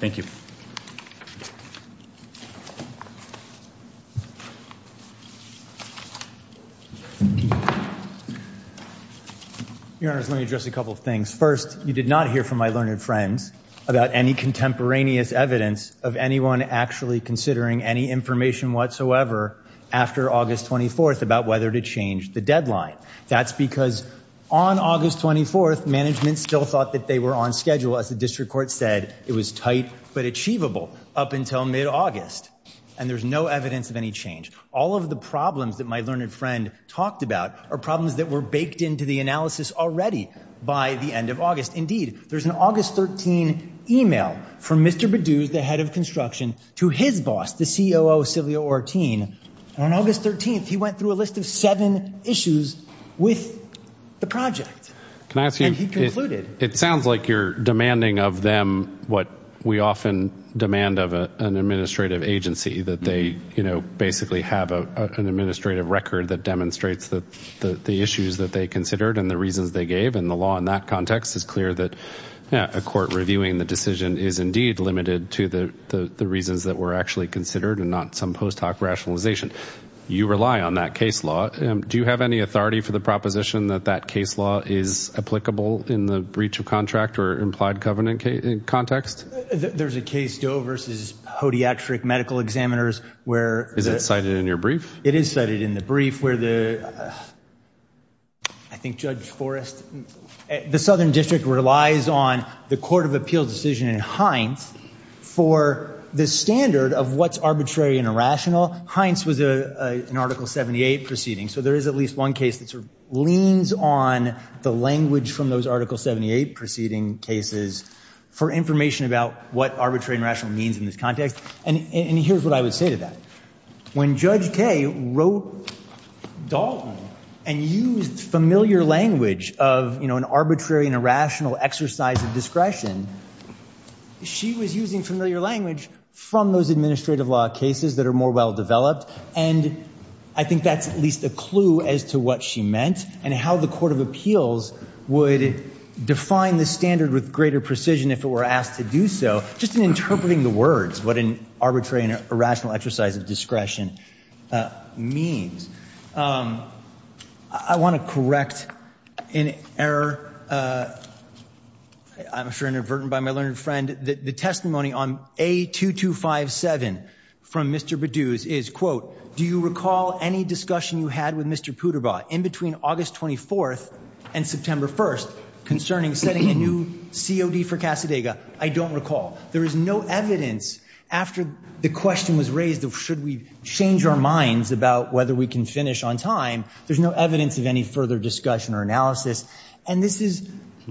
Thank you Your Honor, let me address a couple of things. First, you did not hear from my learned friends about any contemporaneous evidence of anyone actually considering any information whatsoever after August 24th about whether to change the deadline. That's because on August 24th, management still thought that they were on schedule as the district court said it was tight but achievable up until mid-August. And there's no evidence of any change. All of the problems that my learned friend talked about are problems that were baked into the analysis already by the end of August. Indeed, there's an August 13 email from Mr. Bedouz, the head of construction, to his boss, the COO, Silvio Ortin. And on August 13th, he went through a list of seven issues with the project. And he concluded. It sounds like you're demanding of them what we often demand of an administrative agency, that they basically have an administrative record that demonstrates the issues that they considered and the reasons they gave. And the law in that context is clear that a court actually considered and not some post hoc rationalization. You rely on that case law. Do you have any authority for the proposition that that case law is applicable in the breach of contract or implied covenant context? There's a case, Joe, versus podiatric medical examiners where... Is it cited in your brief? It is cited in the brief where the... I think Judge Forrest... The Southern District relies on the Court of Appeal decision in Hines for the standard of what's arbitrary and irrational. Hines was an Article 78 proceeding. So there is at least one case that leans on the language from those Article 78 proceeding cases for information about what arbitrary and rational means in this context. And here's what I would say to that. When Judge Kaye wrote Dalton and used familiar language of an arbitrary and irrational exercise of discretion, she was using familiar language from those administrative law cases that are more well developed. And I think that's at least a clue as to what she meant and how the Court of Appeals would define the standard with greater precision if it were asked to do so, just in interpreting the words, what an arbitrary and irrational exercise of discretion means. I want to correct an error. I'm sure inadvertent by my learned friend. The testimony on A-2257 from Mr. Bedouz is, quote, do you recall any discussion you had with Mr. Puderbaugh in between August 24th and September 1st concerning setting a new COD for Casadega? I don't recall. There is no evidence after the question was raised of should we change our minds about whether we can finish on time. There's no evidence of any further discussion or analysis. And this is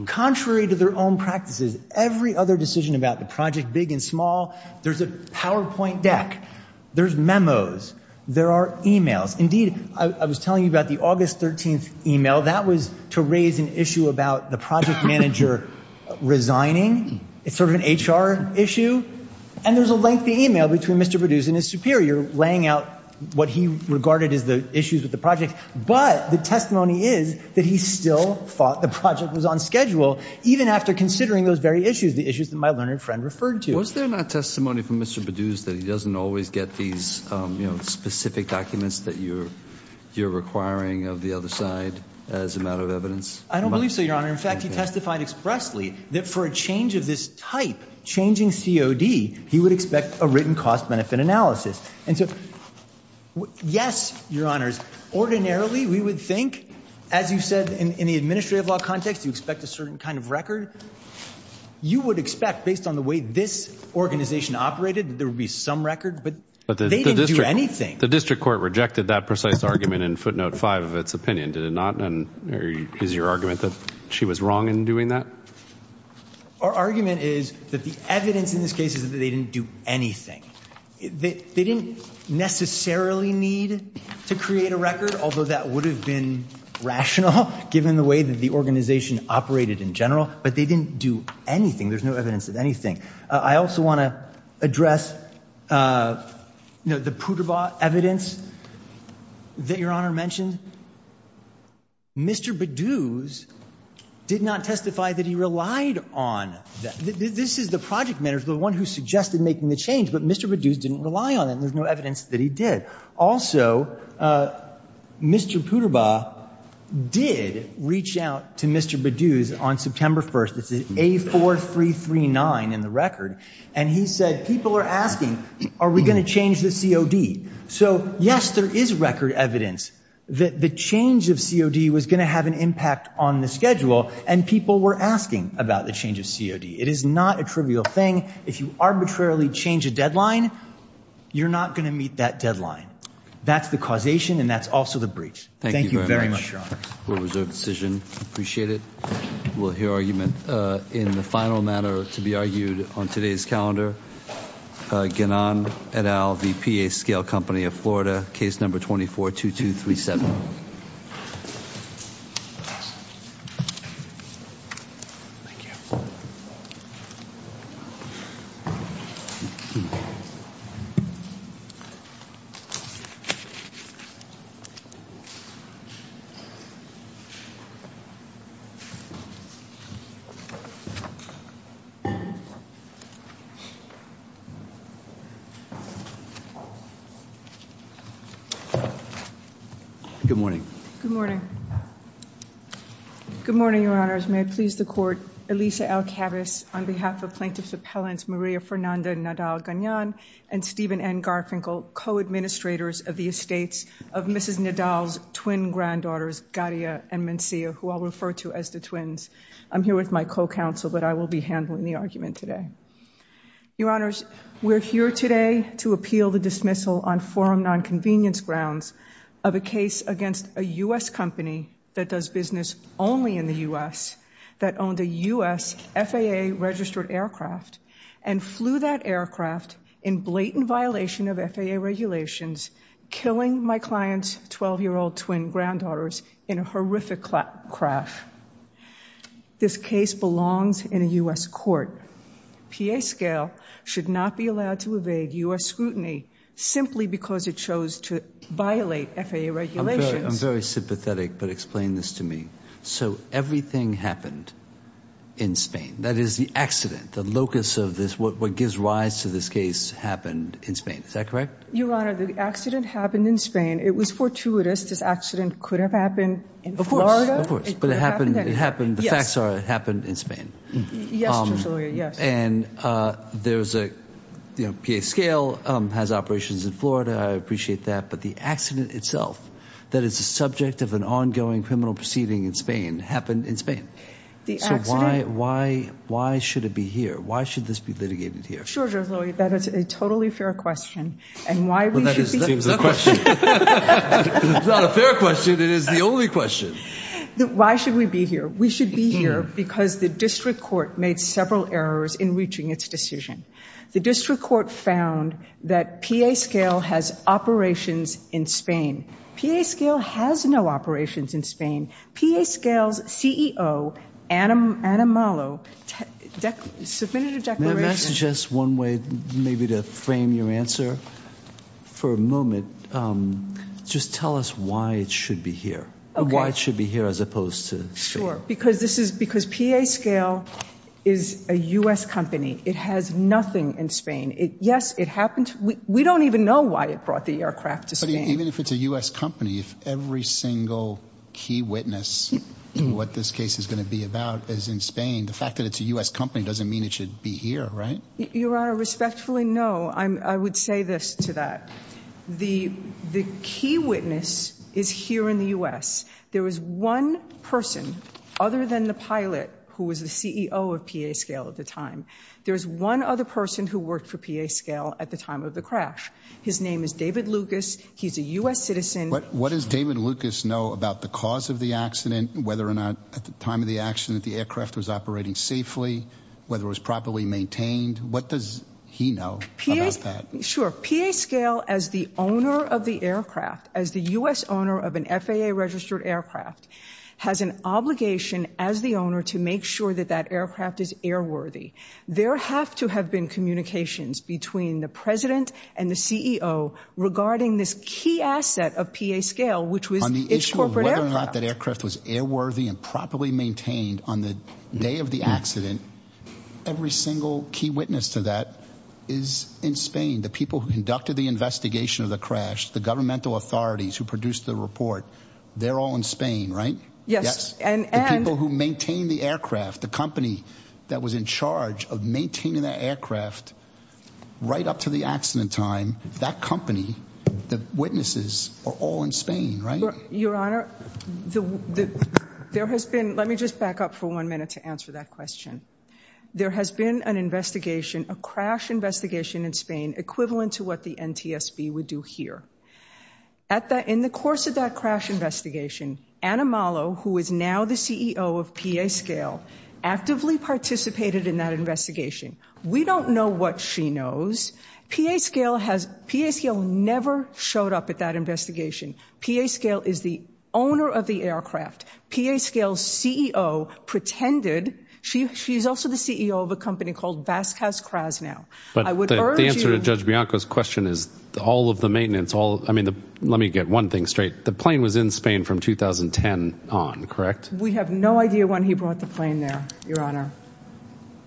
contrary to their own practices. Every other decision about the project big and small, there's a PowerPoint deck. There's memos. There are e-mails. Indeed, I was telling you about the August 13th e-mail. That was to raise an issue about the project manager resigning. It's sort of an HR issue. And there's a lengthy e-mail between Mr. Bedouz and his superior laying out what he regarded as the issues with the project. But the testimony is that he still thought the project was on schedule, even after considering those very issues, the issues that my learned friend referred to. Was there not testimony from Mr. Bedouz that he doesn't always get these specific documents that you're requiring of the other side as a matter of evidence? I don't believe so, Your Honor. In fact, he testified expressly that for a change of this type, changing COD, he would expect a written cost-benefit analysis. And so, yes, Your Honors, ordinarily we would think, as you said in the administrative law context, you expect a certain kind of record. You would expect, based on the way this organization operated, that there would be some record. But they didn't do anything. The district court rejected that precise argument in footnote five of its opinion, did it not? And is your argument that she was wrong in doing that? Our argument is that the evidence in this case is that they didn't do anything. They didn't necessarily need to create a record, although that would have been rational, given the way that the organization operated in general. But they didn't do anything. There's no evidence of anything. I also want to address, you know, the Poudrebas evidence that Your Honor mentioned. Mr. Bedouz did not testify that he relied on that. This is the project manager, the one who suggested making the change, but Mr. Bedouz didn't rely on it, and there's no evidence that he did. Also, Mr. Poudrebas did reach out to Mr. Bedouz on September 1st. It's A4339 in the record. And he said, people are asking, are we going to change the COD? So, yes, there is record evidence that the change of COD was going to have an impact on the schedule, and people were asking about the change of COD. It is not a trivial thing. If you arbitrarily change a deadline, you're not going to meet that deadline. That's the causation, and that's also the breach. Thank you very much, Your Honor. Thank you very much, Your Honor. We'll reserve the decision. Appreciate it. We'll hear argument. In the final matter to be argued on today's calendar, Ganon et al. v. PA Scale Company of Florida, Case Number 24-2237. Good morning. Good morning. Good morning, Your Honors. May it please the Court, Elisa Alcabez on behalf of Plaintiffs Appellants Maria Fernanda Nadal-Ganon and Stephen N. Garfinkel, co-administrators of the estates of Mrs. Nadal's twin granddaughters, Gadia and Mencia, who I'll refer to as the twins. I'm here with my co-counsel, but I will be handling the argument today. Your Honors, we're here today to appeal the dismissal on forum nonconvenience grounds of a case against a U.S. company that does business only in the U.S. that owned a U.S. FAA-registered aircraft and flew that aircraft in blatant violation of FAA regulations, killing my client's 12-year-old twin granddaughters in a horrific crash. This case belongs in a U.S. court. PA Scale should not be allowed to evade U.S. scrutiny simply because it chose to violate FAA regulations. I'm very sympathetic, but explain this to me. So everything happened in Spain. That is, the accident, the locus of this, what gives rise to this case, happened in Spain. Is that correct? Your Honor, the accident happened in Spain. It was fortuitous. This accident could have happened in Florida. Of course, of course. But it happened, the facts are, it happened in Spain. Yes, Judge Lowyer, yes. And there's a, you know, PA Scale has operations in Florida. I appreciate that. But the accident itself, that is the subject of an ongoing criminal proceeding in Spain, happened in The accident- So why, why, why should it be here? Why should this be litigated here? Sure, Judge Lowyer, that is a totally fair question. And why we should be- Well, that seems the question. It's not a fair question. It is the only question. Why should we be here? We should be here because the district court made several errors in reaching its decision. The district court found that PA Scale has operations in Spain. PA Scale has no operations in Spain. PA Scale's CEO, Anna Mollo, submitted a declaration- May I suggest one way maybe to frame your answer for a moment? Just tell us why it should be here. Okay. Why it should be here as opposed to Spain. Sure. Because this is, because PA Scale is a U.S. company. It has nothing in Spain. Yes, it happened. We don't even know why it brought the aircraft to Spain. But even if it's a U.S. company, if every single key witness to what this case is going to be about is in Spain, the fact that it's a U.S. company doesn't mean it should be here, right? Your Honor, respectfully, no. I would say this to that. The key witness is here in the U.S. There was one person, other than the pilot, who was the CEO of PA Scale at the time. There was one other person who worked for PA Scale at the time of the crash. His name is David Lucas. He's a U.S. citizen. What does David Lucas know about the cause of the accident, whether or not, at the time of the accident, the aircraft was operating safely, whether it was properly maintained? What does he know about that? Sure. PA Scale, as the owner of the aircraft, as the U.S. owner of an FAA-registered aircraft, has an obligation as the owner to make sure that that aircraft is airworthy. There have to have been communications between the president and the CEO regarding this key asset of PA Scale, which was its corporate aircraft. On the issue of whether or not that aircraft was airworthy and properly maintained on the day of the accident, every single key witness to that is in Spain. The people who conducted the investigation of the crash, the governmental authorities who produced the report, they're all in Spain, right? Yes. The people who maintain the aircraft, the company that was in charge of maintaining the aircraft right up to the accident time, that company, the witnesses are all in Spain, right? Your Honor, there has been—let me just back up for one minute to answer that question. There has been an investigation, a crash investigation in Spain equivalent to what the NTSB would do here. In the course of that crash investigation, Ana Malo, who is now the CEO of PA Scale, actively participated in that investigation. We don't know what she knows. PA Scale never showed up at that investigation. PA Scale is the owner of the aircraft. PA Scale's CEO pretended—she's also the CEO of a company called Vasquez Crasnao. But the answer to Judge Bianco's question is all of the maintenance, all—I mean, let me get one thing straight. The plane was in Spain from 2010 on, correct? We have no idea when he brought the plane there, Your Honor.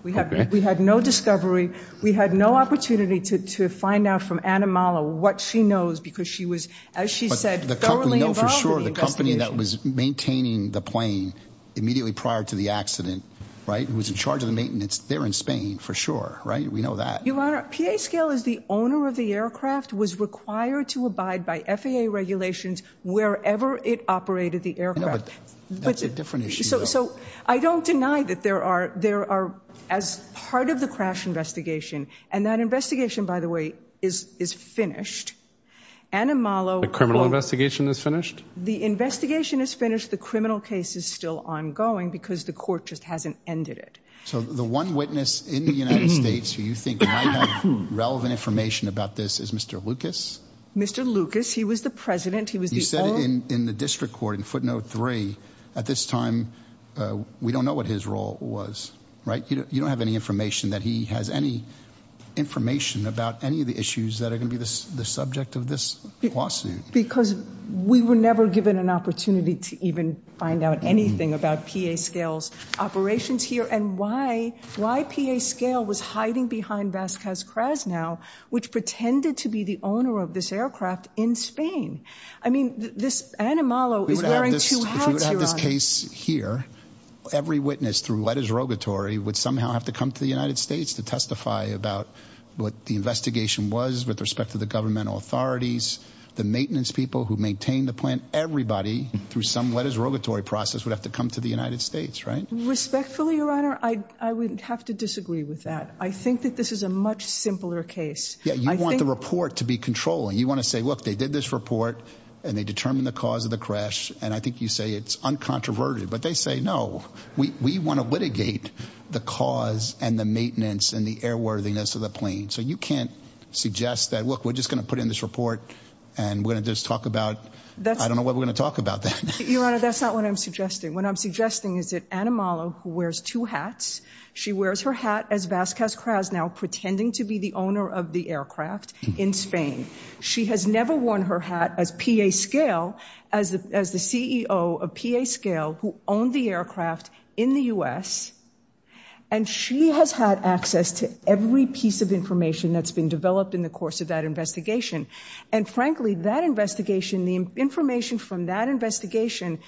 We had no discovery. We had no opportunity to find out from Ana Malo what she knows because she was, as she said, thoroughly involved in the investigation. But we know for sure the company that was maintaining the plane immediately prior to the accident, right, who was in charge of the maintenance, they're in Spain for sure, right? We know that. Your Honor, PA Scale is the owner of the aircraft, was required to abide by FAA regulations wherever it operated the aircraft. I know, but that's a different issue, though. So I don't deny that there are—as part of the crash investigation, and that investigation, by the way, is finished, Ana Malo— The criminal investigation is finished? The investigation is finished. The criminal case is still ongoing because the court just hasn't ended it. So the one witness in the United States who you think might have relevant information about this is Mr. Lucas? Mr. Lucas, he was the president. He was the— In the district court, in footnote three, at this time, we don't know what his role was, right? You don't have any information that he has any information about any of the issues that are going to be the subject of this lawsuit. Because we were never given an opportunity to even find out anything about PA Scale's operations here and why PA Scale was hiding behind Vasquez-Craz now, which pretended to be the owner of this aircraft in Spain. I mean, this—Ana Malo is wearing two hats, If you had this case here, every witness through letters of rogatory would somehow have to come to the United States to testify about what the investigation was with respect to the governmental authorities, the maintenance people who maintain the plant. Everybody, through some letters of rogatory process, would have to come to the United States, right? Respectfully, Your Honor, I would have to disagree with that. I think that this is a much simpler case. Yeah, you want the report to be controlling. You want to say, look, they did this report and they determined the cause of the crash, and I think you say it's uncontroverted. But they say, no, we want to litigate the cause and the maintenance and the airworthiness of the plane. So you can't suggest that, look, we're just going to put in this report and we're going to just talk about—I don't know what we're going to talk about then. Your Honor, that's not what I'm suggesting. What I'm suggesting is that Ana Malo, who wears two hats, she wears her hat as Vasquez-Craz now, pretending to be the owner of the aircraft. In Spain. She has never worn her hat as P.A. Scale, as the CEO of P.A. Scale, who owned the aircraft in the U.S. And she has had access to every piece of information that's been developed in the course of that investigation. And frankly, that investigation, the information from that investigation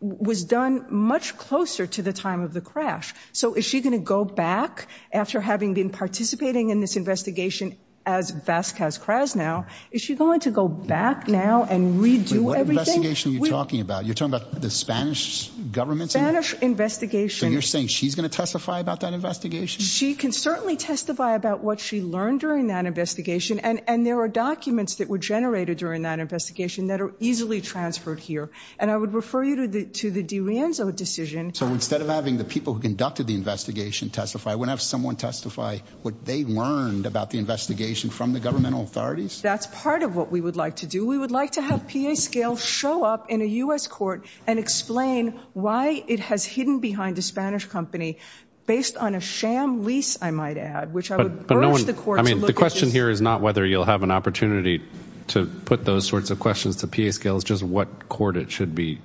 was done much closer to the time of the crash. So is she going to go back after having been participating in this investigation as Vasquez-Craz now? Is she going to go back now and redo everything? Wait, what investigation are you talking about? You're talking about the Spanish government's investigation? Spanish investigation. So you're saying she's going to testify about that investigation? She can certainly testify about what she learned during that investigation. And there are documents that were generated during that investigation that are easily transferred here. And I would refer you to the DiRienzo decision. So instead of having the people who conducted the investigation testify, I wouldn't have someone testify what they learned about the investigation from the governmental authorities? That's part of what we would like to do. We would like to have P.A. Scale show up in a U.S. court and explain why it has hidden behind a Spanish company based on a sham lease, I might add, which I would urge the court to look at. The question here is not whether you'll have an opportunity to put those sorts of questions to P.A. Scale, it's just what court that should be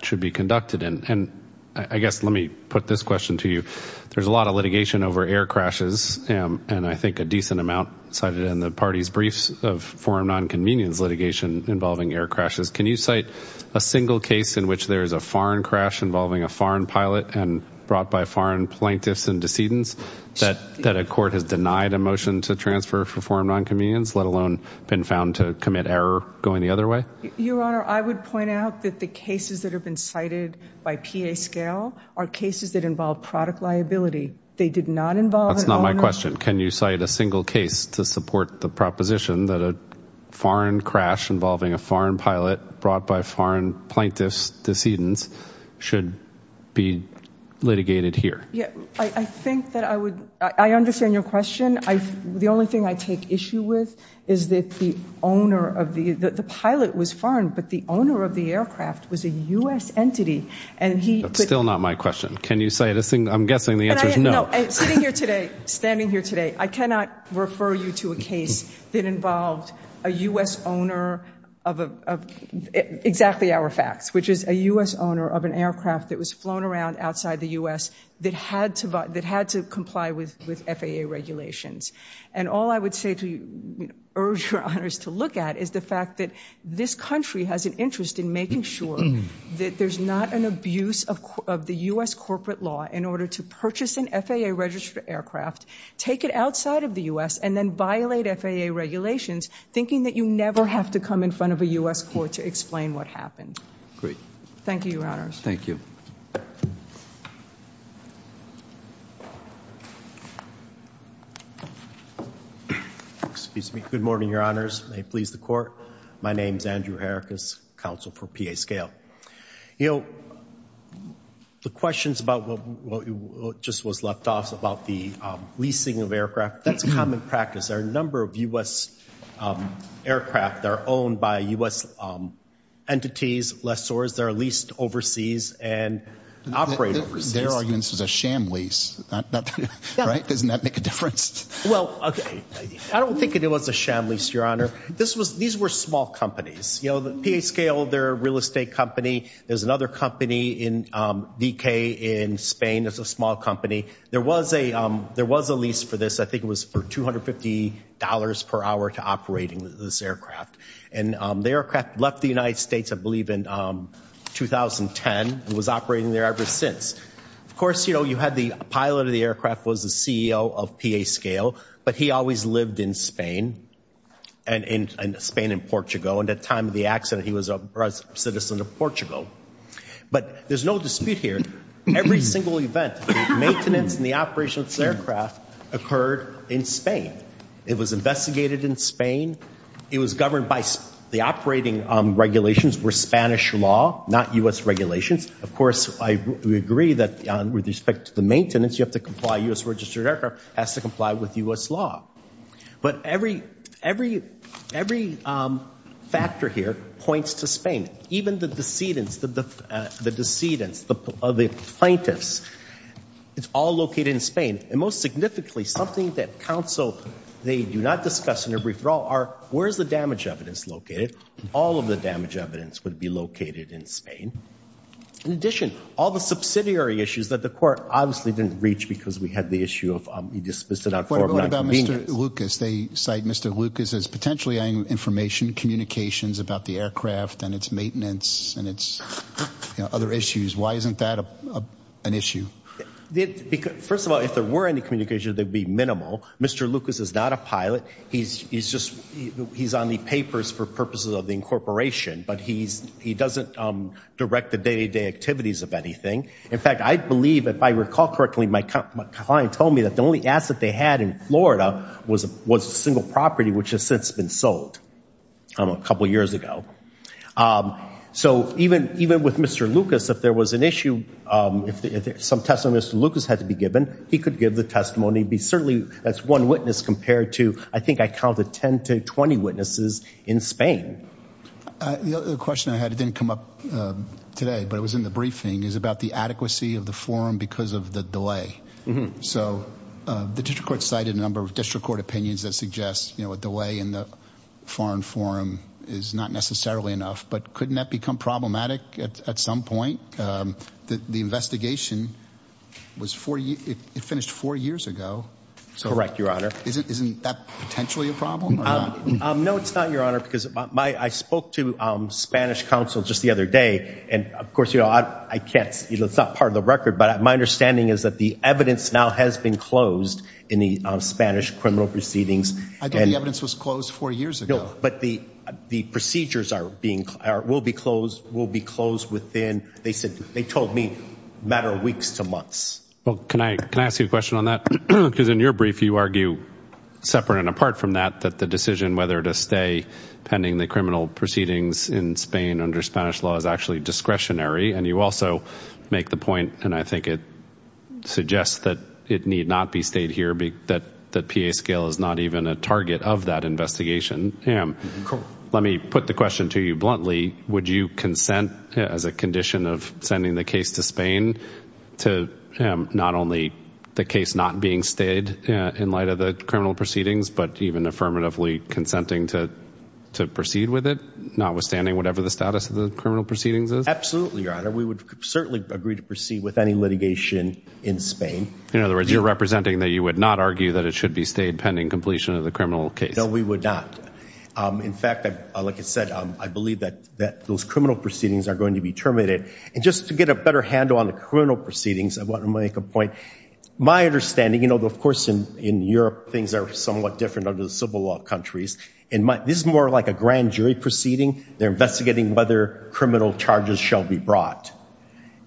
conducted. And I guess let me put this question to you. There's a lot of litigation over air crashes, and I think a decent amount cited in the party's briefs of foreign non-convenience litigation involving air crashes. Can you cite a single case in which there is a foreign crash involving a foreign pilot and brought by foreign plaintiffs and decedents that a court has denied a motion to transfer for foreign non-convenience, let alone been found to commit error going the other way? Your Honor, I would point out that the cases that have been cited by P.A. Scale are cases that involve product liability. They did not involve- That's not my question. Can you cite a single case to support the proposition that a foreign crash involving a foreign pilot brought by foreign plaintiffs, decedents, should be litigated here? I think that I would- I understand your question. The only thing I take issue with is that the owner of the- the pilot was foreign, but the owner of the aircraft was a U.S. entity, and he- That's still not my question. Can you cite a single- I'm guessing the answer is no. No. Sitting here today, standing here today, I cannot refer you to a case that involved a U.S. owner of a- exactly our facts, which is a U.S. owner of an aircraft that was flown around outside the U.S. that had to comply with FAA regulations. And all I would say to urge Your Honors to look at is the fact that this country has an interest in making sure that there's not an abuse of the U.S. corporate law in order to purchase an FAA-registered aircraft, take it outside of the U.S., and then violate FAA regulations, thinking that you never have to come in front of a U.S. court to explain what happened. Great. Thank you, Your Honors. Thank you. Excuse me. Good morning, Your Honors. May it please the Court. My name's Andrew Herrick, as counsel for PA Scale. You know, the questions about what just was left off about the leasing of aircraft, that's a common practice. There are a number of U.S. aircraft that are owned by U.S. entities, lessors, that are leased overseas and operate overseas. Their argument is a sham lease, right? Doesn't that make a difference? Well, I don't think it was a sham lease, Your Honor. This was- these were small companies. You know, PA Scale, they're a real estate company. There's another company in VK in Spain that's a small company. There was a lease for this. I think it was for $250 per hour to operate this aircraft. And the aircraft left the United States, I believe, in 2010 and was operating there ever since. Of course, you know, you had the pilot of the aircraft was the CEO of PA Scale, but he always lived in Spain and- in Spain and Portugal. And at the time of the accident, he was a citizen of Portugal. But there's no dispute here. Every single event, the maintenance and the operation of this aircraft occurred in Spain. It was investigated in Spain. It was governed by the operating regulations were Spanish law, not U.S. regulations. Of course, I agree that with respect to the maintenance, you have to comply- U.S. registered aircraft has to comply with U.S. law. But every- every- every factor here points to Spain. Even the decedents, the decedents, the plaintiffs, it's all located in Spain. And most significantly, something that counsel, they do not discuss in a brief draw are, where's the damage evidence located? All of the damage evidence would be located in Spain. In addition, all the subsidiary issues that the court obviously didn't reach because we had the issue of- we dismissed it out for non-convenience. What about Mr. Lucas? They cite Mr. Lucas as potentially information communications about the aircraft and its maintenance and its, you know, other issues. Why isn't that an issue? First of all, if there were any communication, they'd be minimal. Mr. Lucas is not a pilot. He's- he's just- he's on the papers for purposes of the incorporation. But he's- he doesn't direct the day-to-day activities of anything. In fact, I believe, if I recall correctly, my client told me that the only asset they had in Florida was- was a single property which has since been sold, I don't know, a couple of years ago. So even- even with Mr. Lucas, if there was an issue, if some testimony of Mr. Lucas had to be given, he could give the testimony, be certainly- that's one witness compared to, I think I counted 10 to 20 witnesses in Spain. The question I had, it didn't come up today, but it was in the briefing, is about the adequacy of the forum because of the delay. So the district court cited a number of district court opinions that suggest, you know, a delay in the foreign forum is not necessarily enough. But couldn't that become problematic at some point? The investigation was four- it finished four years ago. Correct, Your Honor. So isn't- isn't that potentially a problem or not? No, it's not, Your Honor, because my- I spoke to Spanish counsel just the other day. And of course, you know, I can't- it's not part of the record, but my understanding is that the evidence now has been closed in the Spanish criminal proceedings. I thought the evidence was closed four years ago. But the procedures are being- will be closed- will be closed within, they said- they told me, a matter of weeks to months. Well, can I- can I ask you a question on that? Because in your brief, you argue separate and apart from that, that the decision whether to stay pending the criminal proceedings in Spain under Spanish law is actually discretionary. And you also make the point, and I think it suggests that it need not be stayed here, that the PA scale is not even a target of that investigation. Correct. Let me put the question to you bluntly. Would you consent, as a condition of sending the case to Spain, to not only the case not being stayed in light of the criminal proceedings, but even affirmatively consenting to- to proceed with it, notwithstanding whatever the status of the criminal proceedings is? Absolutely, Your Honor. We would certainly agree to proceed with any litigation in Spain. In other words, you're representing that you would not argue that it should be stayed pending completion of the criminal case. No, we would not. In fact, like I said, I believe that- that those criminal proceedings are going to be terminated. And just to get a better handle on the criminal proceedings, I want to make a point. My understanding, you know, of course, in- in Europe, things are somewhat different under the civil law countries. In my- this is more like a grand brought.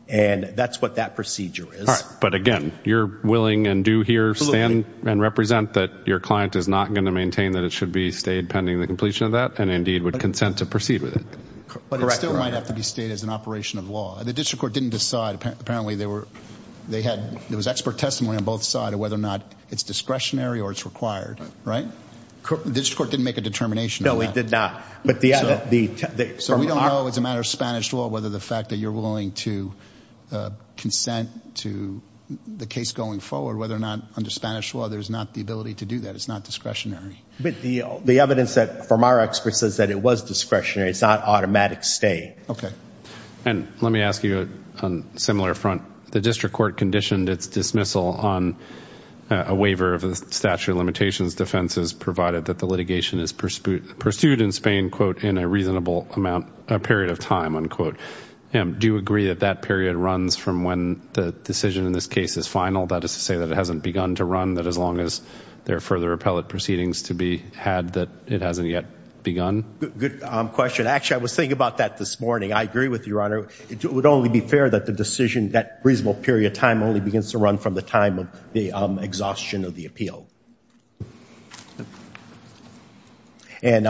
And that's what that procedure is. But again, you're willing and do here stand and represent that your client is not going to maintain that it should be stayed pending the completion of that, and indeed would consent to proceed with it. Correct, Your Honor. But it still might have to be stayed as an operation of law. The district court didn't decide. Apparently, they were- they had- there was expert testimony on both side of whether or not it's discretionary or it's required, right? The district court didn't make a determination on that. No, it did not. But the- So we don't know as a matter of Spanish law, whether the fact that you're willing to consent to the case going forward, whether or not under Spanish law, there's not the ability to do that. It's not discretionary. But the- the evidence that from our experts says that it was discretionary. It's not automatic stay. Okay. And let me ask you on similar front. The district court conditioned its dismissal on a waiver of the statute of limitations defenses provided that the litigation is pursued in Spain, quote, in a reasonable amount- a period of time, unquote. Do you agree that that period runs from when the decision in this case is final? That is to say that it hasn't begun to run that as long as there are further appellate proceedings to be had, that it hasn't yet begun? Good question. Actually, I was thinking about that this morning. I agree with you, Your Honor. It would only be fair that the decision- that reasonable period of time only begins to run from the time of the exhaustion of the appeal. And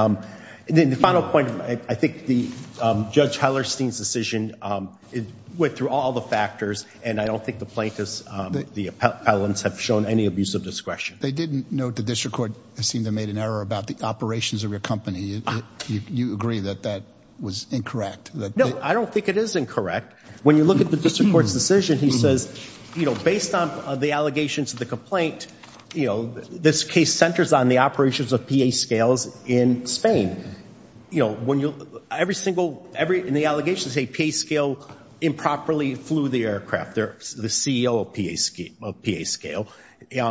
then the final point, I think the- Judge Hellerstein's decision went through all the factors, and I don't think the plaintiffs- the appellants have shown any abuse of discretion. They didn't note the district court seemed to have made an error about the operations of your company. You agree that that was incorrect? No, I don't think it is incorrect. When you look at the district court's decision, he on the allegations of the complaint, this case centers on the operations of P.A. Scale's in Spain. Every single- in the allegations, they say P.A. Scale improperly flew the aircraft, the CEO of P.A. Scale.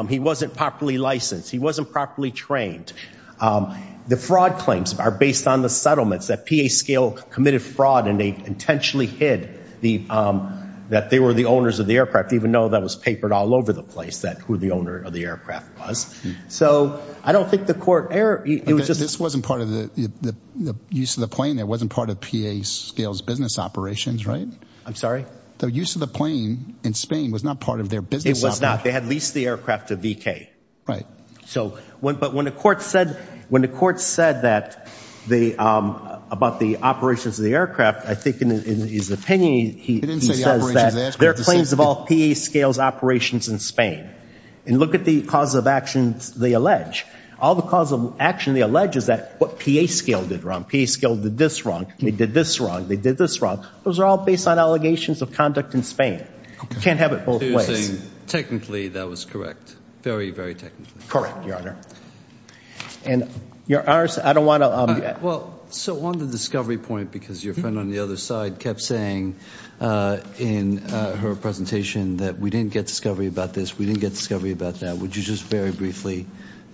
He wasn't properly licensed. He wasn't properly trained. The fraud claims are based on the settlements that P.A. Scale committed fraud and they intentionally hid that they were the owners of the aircraft, even though that was papered all over the place that who the owner of the aircraft was. So, I don't think the court- This wasn't part of the use of the plane. That wasn't part of P.A. Scale's business operations, right? I'm sorry? The use of the plane in Spain was not part of their business operations. It was not. They had leased the aircraft to VK. Right. So, but when the court said that the- about the operations of the aircraft, I think in his opinion, he says that there are claims of all P.A. Scale's operations in Spain. And look at the cause of actions they allege. All the cause of action they allege is that what P.A. Scale did wrong. P.A. Scale did this wrong. They did this wrong. They did this wrong. Those are all based on allegations of conduct in Spain. You can't have it both ways. So, you're saying technically that was correct. Very, very technically. Correct, your honor. And your honors, I don't want to- Well, so on the discovery point, because your friend on the other side kept saying in her presentation that we didn't get discovery about this, we didn't get discovery about that. Would you just very briefly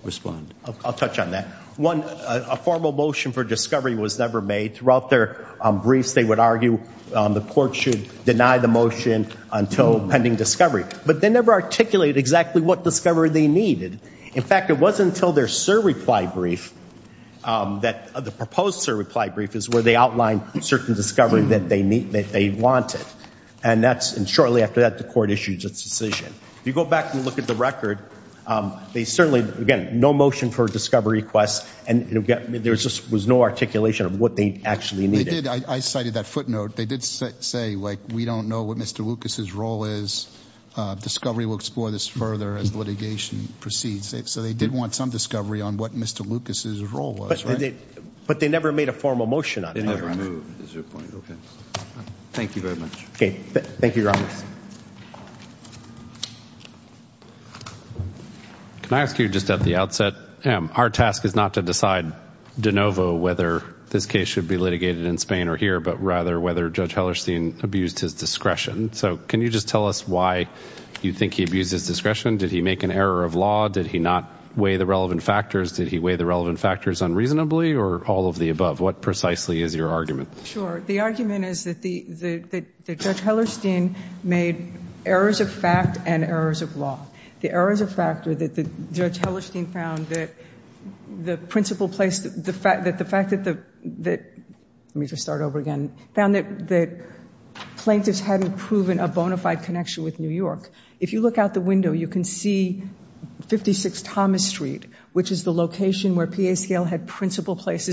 respond? I'll touch on that. One, a formal motion for discovery was never made. Throughout their briefs, they would argue the court should deny the motion until pending discovery. But they never articulated exactly what discovery they needed. In fact, it wasn't until their sir reply brief that- the proposed sir reply brief is where they outline certain discovery that they need- that they wanted. And that's- and shortly after that, the court issues its decision. If you go back and look at the record, they certainly, again, no motion for discovery requests. And there just was no articulation of what they actually needed. They did. I cited that footnote. They did say, like, we don't know what Mr. Lucas's role is. Discovery will explore this further as litigation proceeds. So, they did want some discovery on what Mr. Lucas's role was, right? But they never made a formal motion on it. They never moved, is your point. Okay. Thank you very much. Okay. Thank you, your honors. Can I ask you, just at the outset, our task is not to decide de novo whether this case should be litigated in Spain or here, but rather whether Judge Hellerstein abused his discretion. So, can you just tell us why you think he abused his discretion? Did he make an error of law? Did he not weigh the relevant factors? Did he weigh the relevant factors unreasonably or all of the above? What precisely is your argument? Sure. The argument is that Judge Hellerstein made errors of fact and errors of law. The errors of fact are that Judge Hellerstein found that the principal place, that the fact that the, let me just start over again, found that plaintiffs hadn't proven a bona fide connection with New York. If you look out the window, you can see 56 Thomas Street, which is the location where P.A. Scale had principal place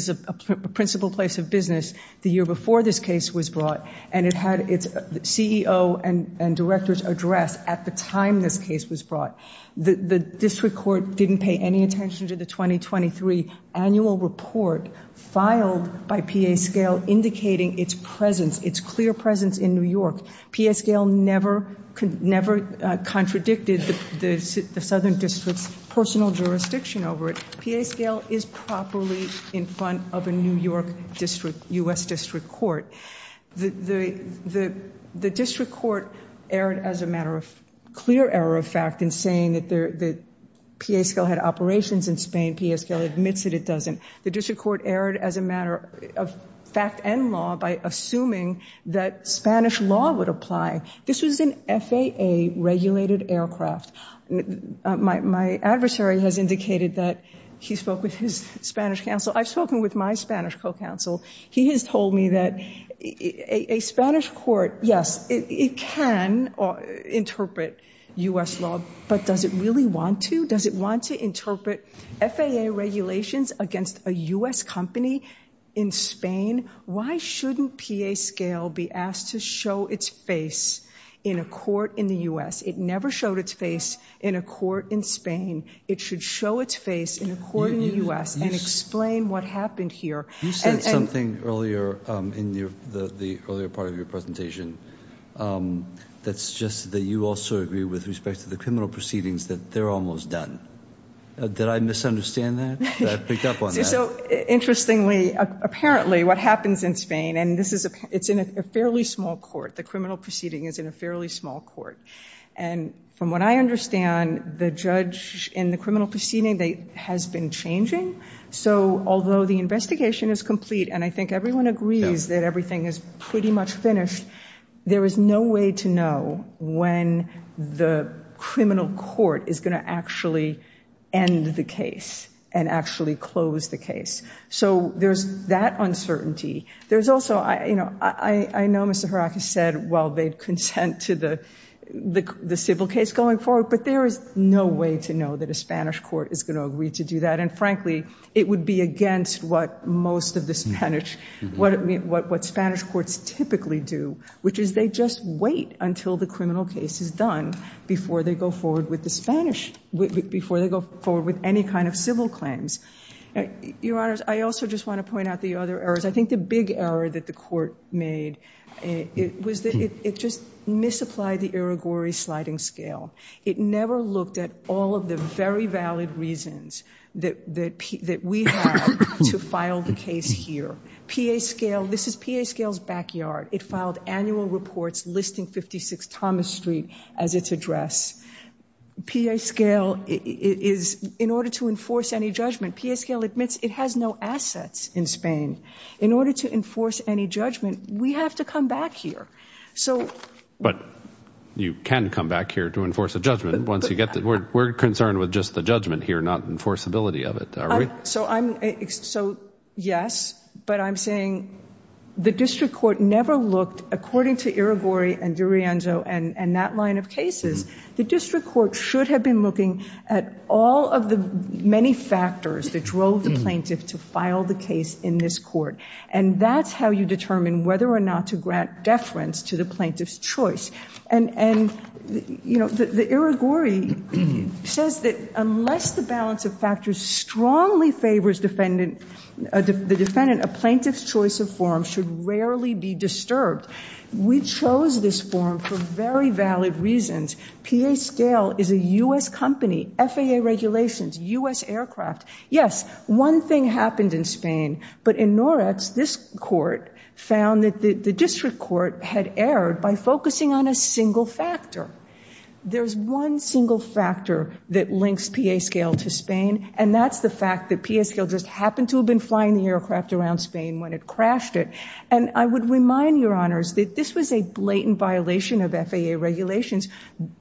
of business the year before this case was brought, and it had its CEO and director's address at the time this case was brought. The district court didn't pay any attention to the 2023 annual report filed by P.A. Scale indicating its presence, its clear presence in New York. P.A. Scale never contradicted the southern district's personal jurisdiction over it. P.A. Scale is properly in front of a New York district, U.S. district court. The district court erred as a matter of clear error of fact in saying that P.A. Scale had operations in Spain. P.A. Scale admits that it doesn't. The district court erred as a matter of fact and law by assuming that Spanish law would apply. This was an FAA regulated aircraft. My adversary has indicated that he spoke with his Spanish counsel. I've spoken with my Spanish co-counsel. He has told me that a Spanish court, yes, it can interpret U.S. law, but does it really want to? Does it want to interpret FAA regulations against a U.S. company in Spain? Why shouldn't P.A. Scale be asked to show its face in a court in the U.S.? It never showed its face in a court in Spain. It should show its face in a court in the U.S. and explain what happened here. You said something earlier in the earlier part of your presentation that suggested that you also agree with respect to the criminal proceedings that they're almost done. Did I misunderstand that? Did I pick up on that? So interestingly, apparently what happens in Spain, and it's in a fairly small court. The criminal proceeding is in a fairly small court. And from what I understand, the judge in the criminal proceeding has been changing. So although the investigation is complete, and I think everyone agrees that everything is pretty much finished, there is no way to know when the criminal court is going to actually end the case and actually close the case. So there's that uncertainty. There's also, you know, I know Mr. Haraka said, well, they'd consent to the civil case going forward, but there is no way to know that a Spanish court is going to agree to do that. And frankly, it would be against what most of the Spanish, what Spanish courts typically do, which is they just wait until the criminal case is done before they go forward with the Spanish, before they go forward with any kind of civil claims. Your Honors, I also just want to point out the other errors. I think the big error that the court made was that it just misapplied the Irigori sliding scale. It never looked at all of the very valid reasons that we have to file the case here. PA scale, this is PA scale's backyard. It filed annual reports listing 56 Thomas Street as its address. PA scale is, in order to enforce any judgment, PA scale admits it has no assets in Spain. In order to enforce any judgment, we have to come back here. So. But you can come back here to enforce a judgment once you get the, we're concerned with just the judgment here, not enforceability of it, are we? So I'm, so yes, but I'm saying the district court never looked, according to Irigori and D'Arienzo and that line of cases, the district court should have been looking at all of the many factors that drove the plaintiff to file the case in this court. And that's how you determine whether or not to grant deference to the plaintiff's choice. And, you know, the Irigori says that unless the balance of factors strongly favors defendant, the defendant, a plaintiff's choice of form should rarely be disturbed. We chose this form for very valid reasons. PA scale is a U.S. company, FAA regulations, U.S. aircraft. Yes, one thing happened in Spain, but in Noretz, this court found that the district court had erred by focusing on a single factor. There's one single factor that links PA scale to Spain, and that's the fact that PA scale just happened to have been flying the aircraft around Spain when it crashed it. And I would remind your honors that this was a blatant violation of FAA regulations.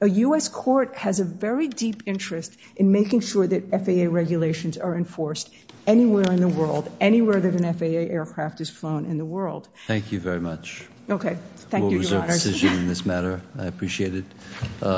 A U.S. court has a very deep interest in making sure that FAA regulations are enforced anywhere in the world, anywhere that an FAA aircraft is flown in the world. Thank you very much. Okay. Thank you, your honors. We'll reserve decision in this matter. I appreciate it.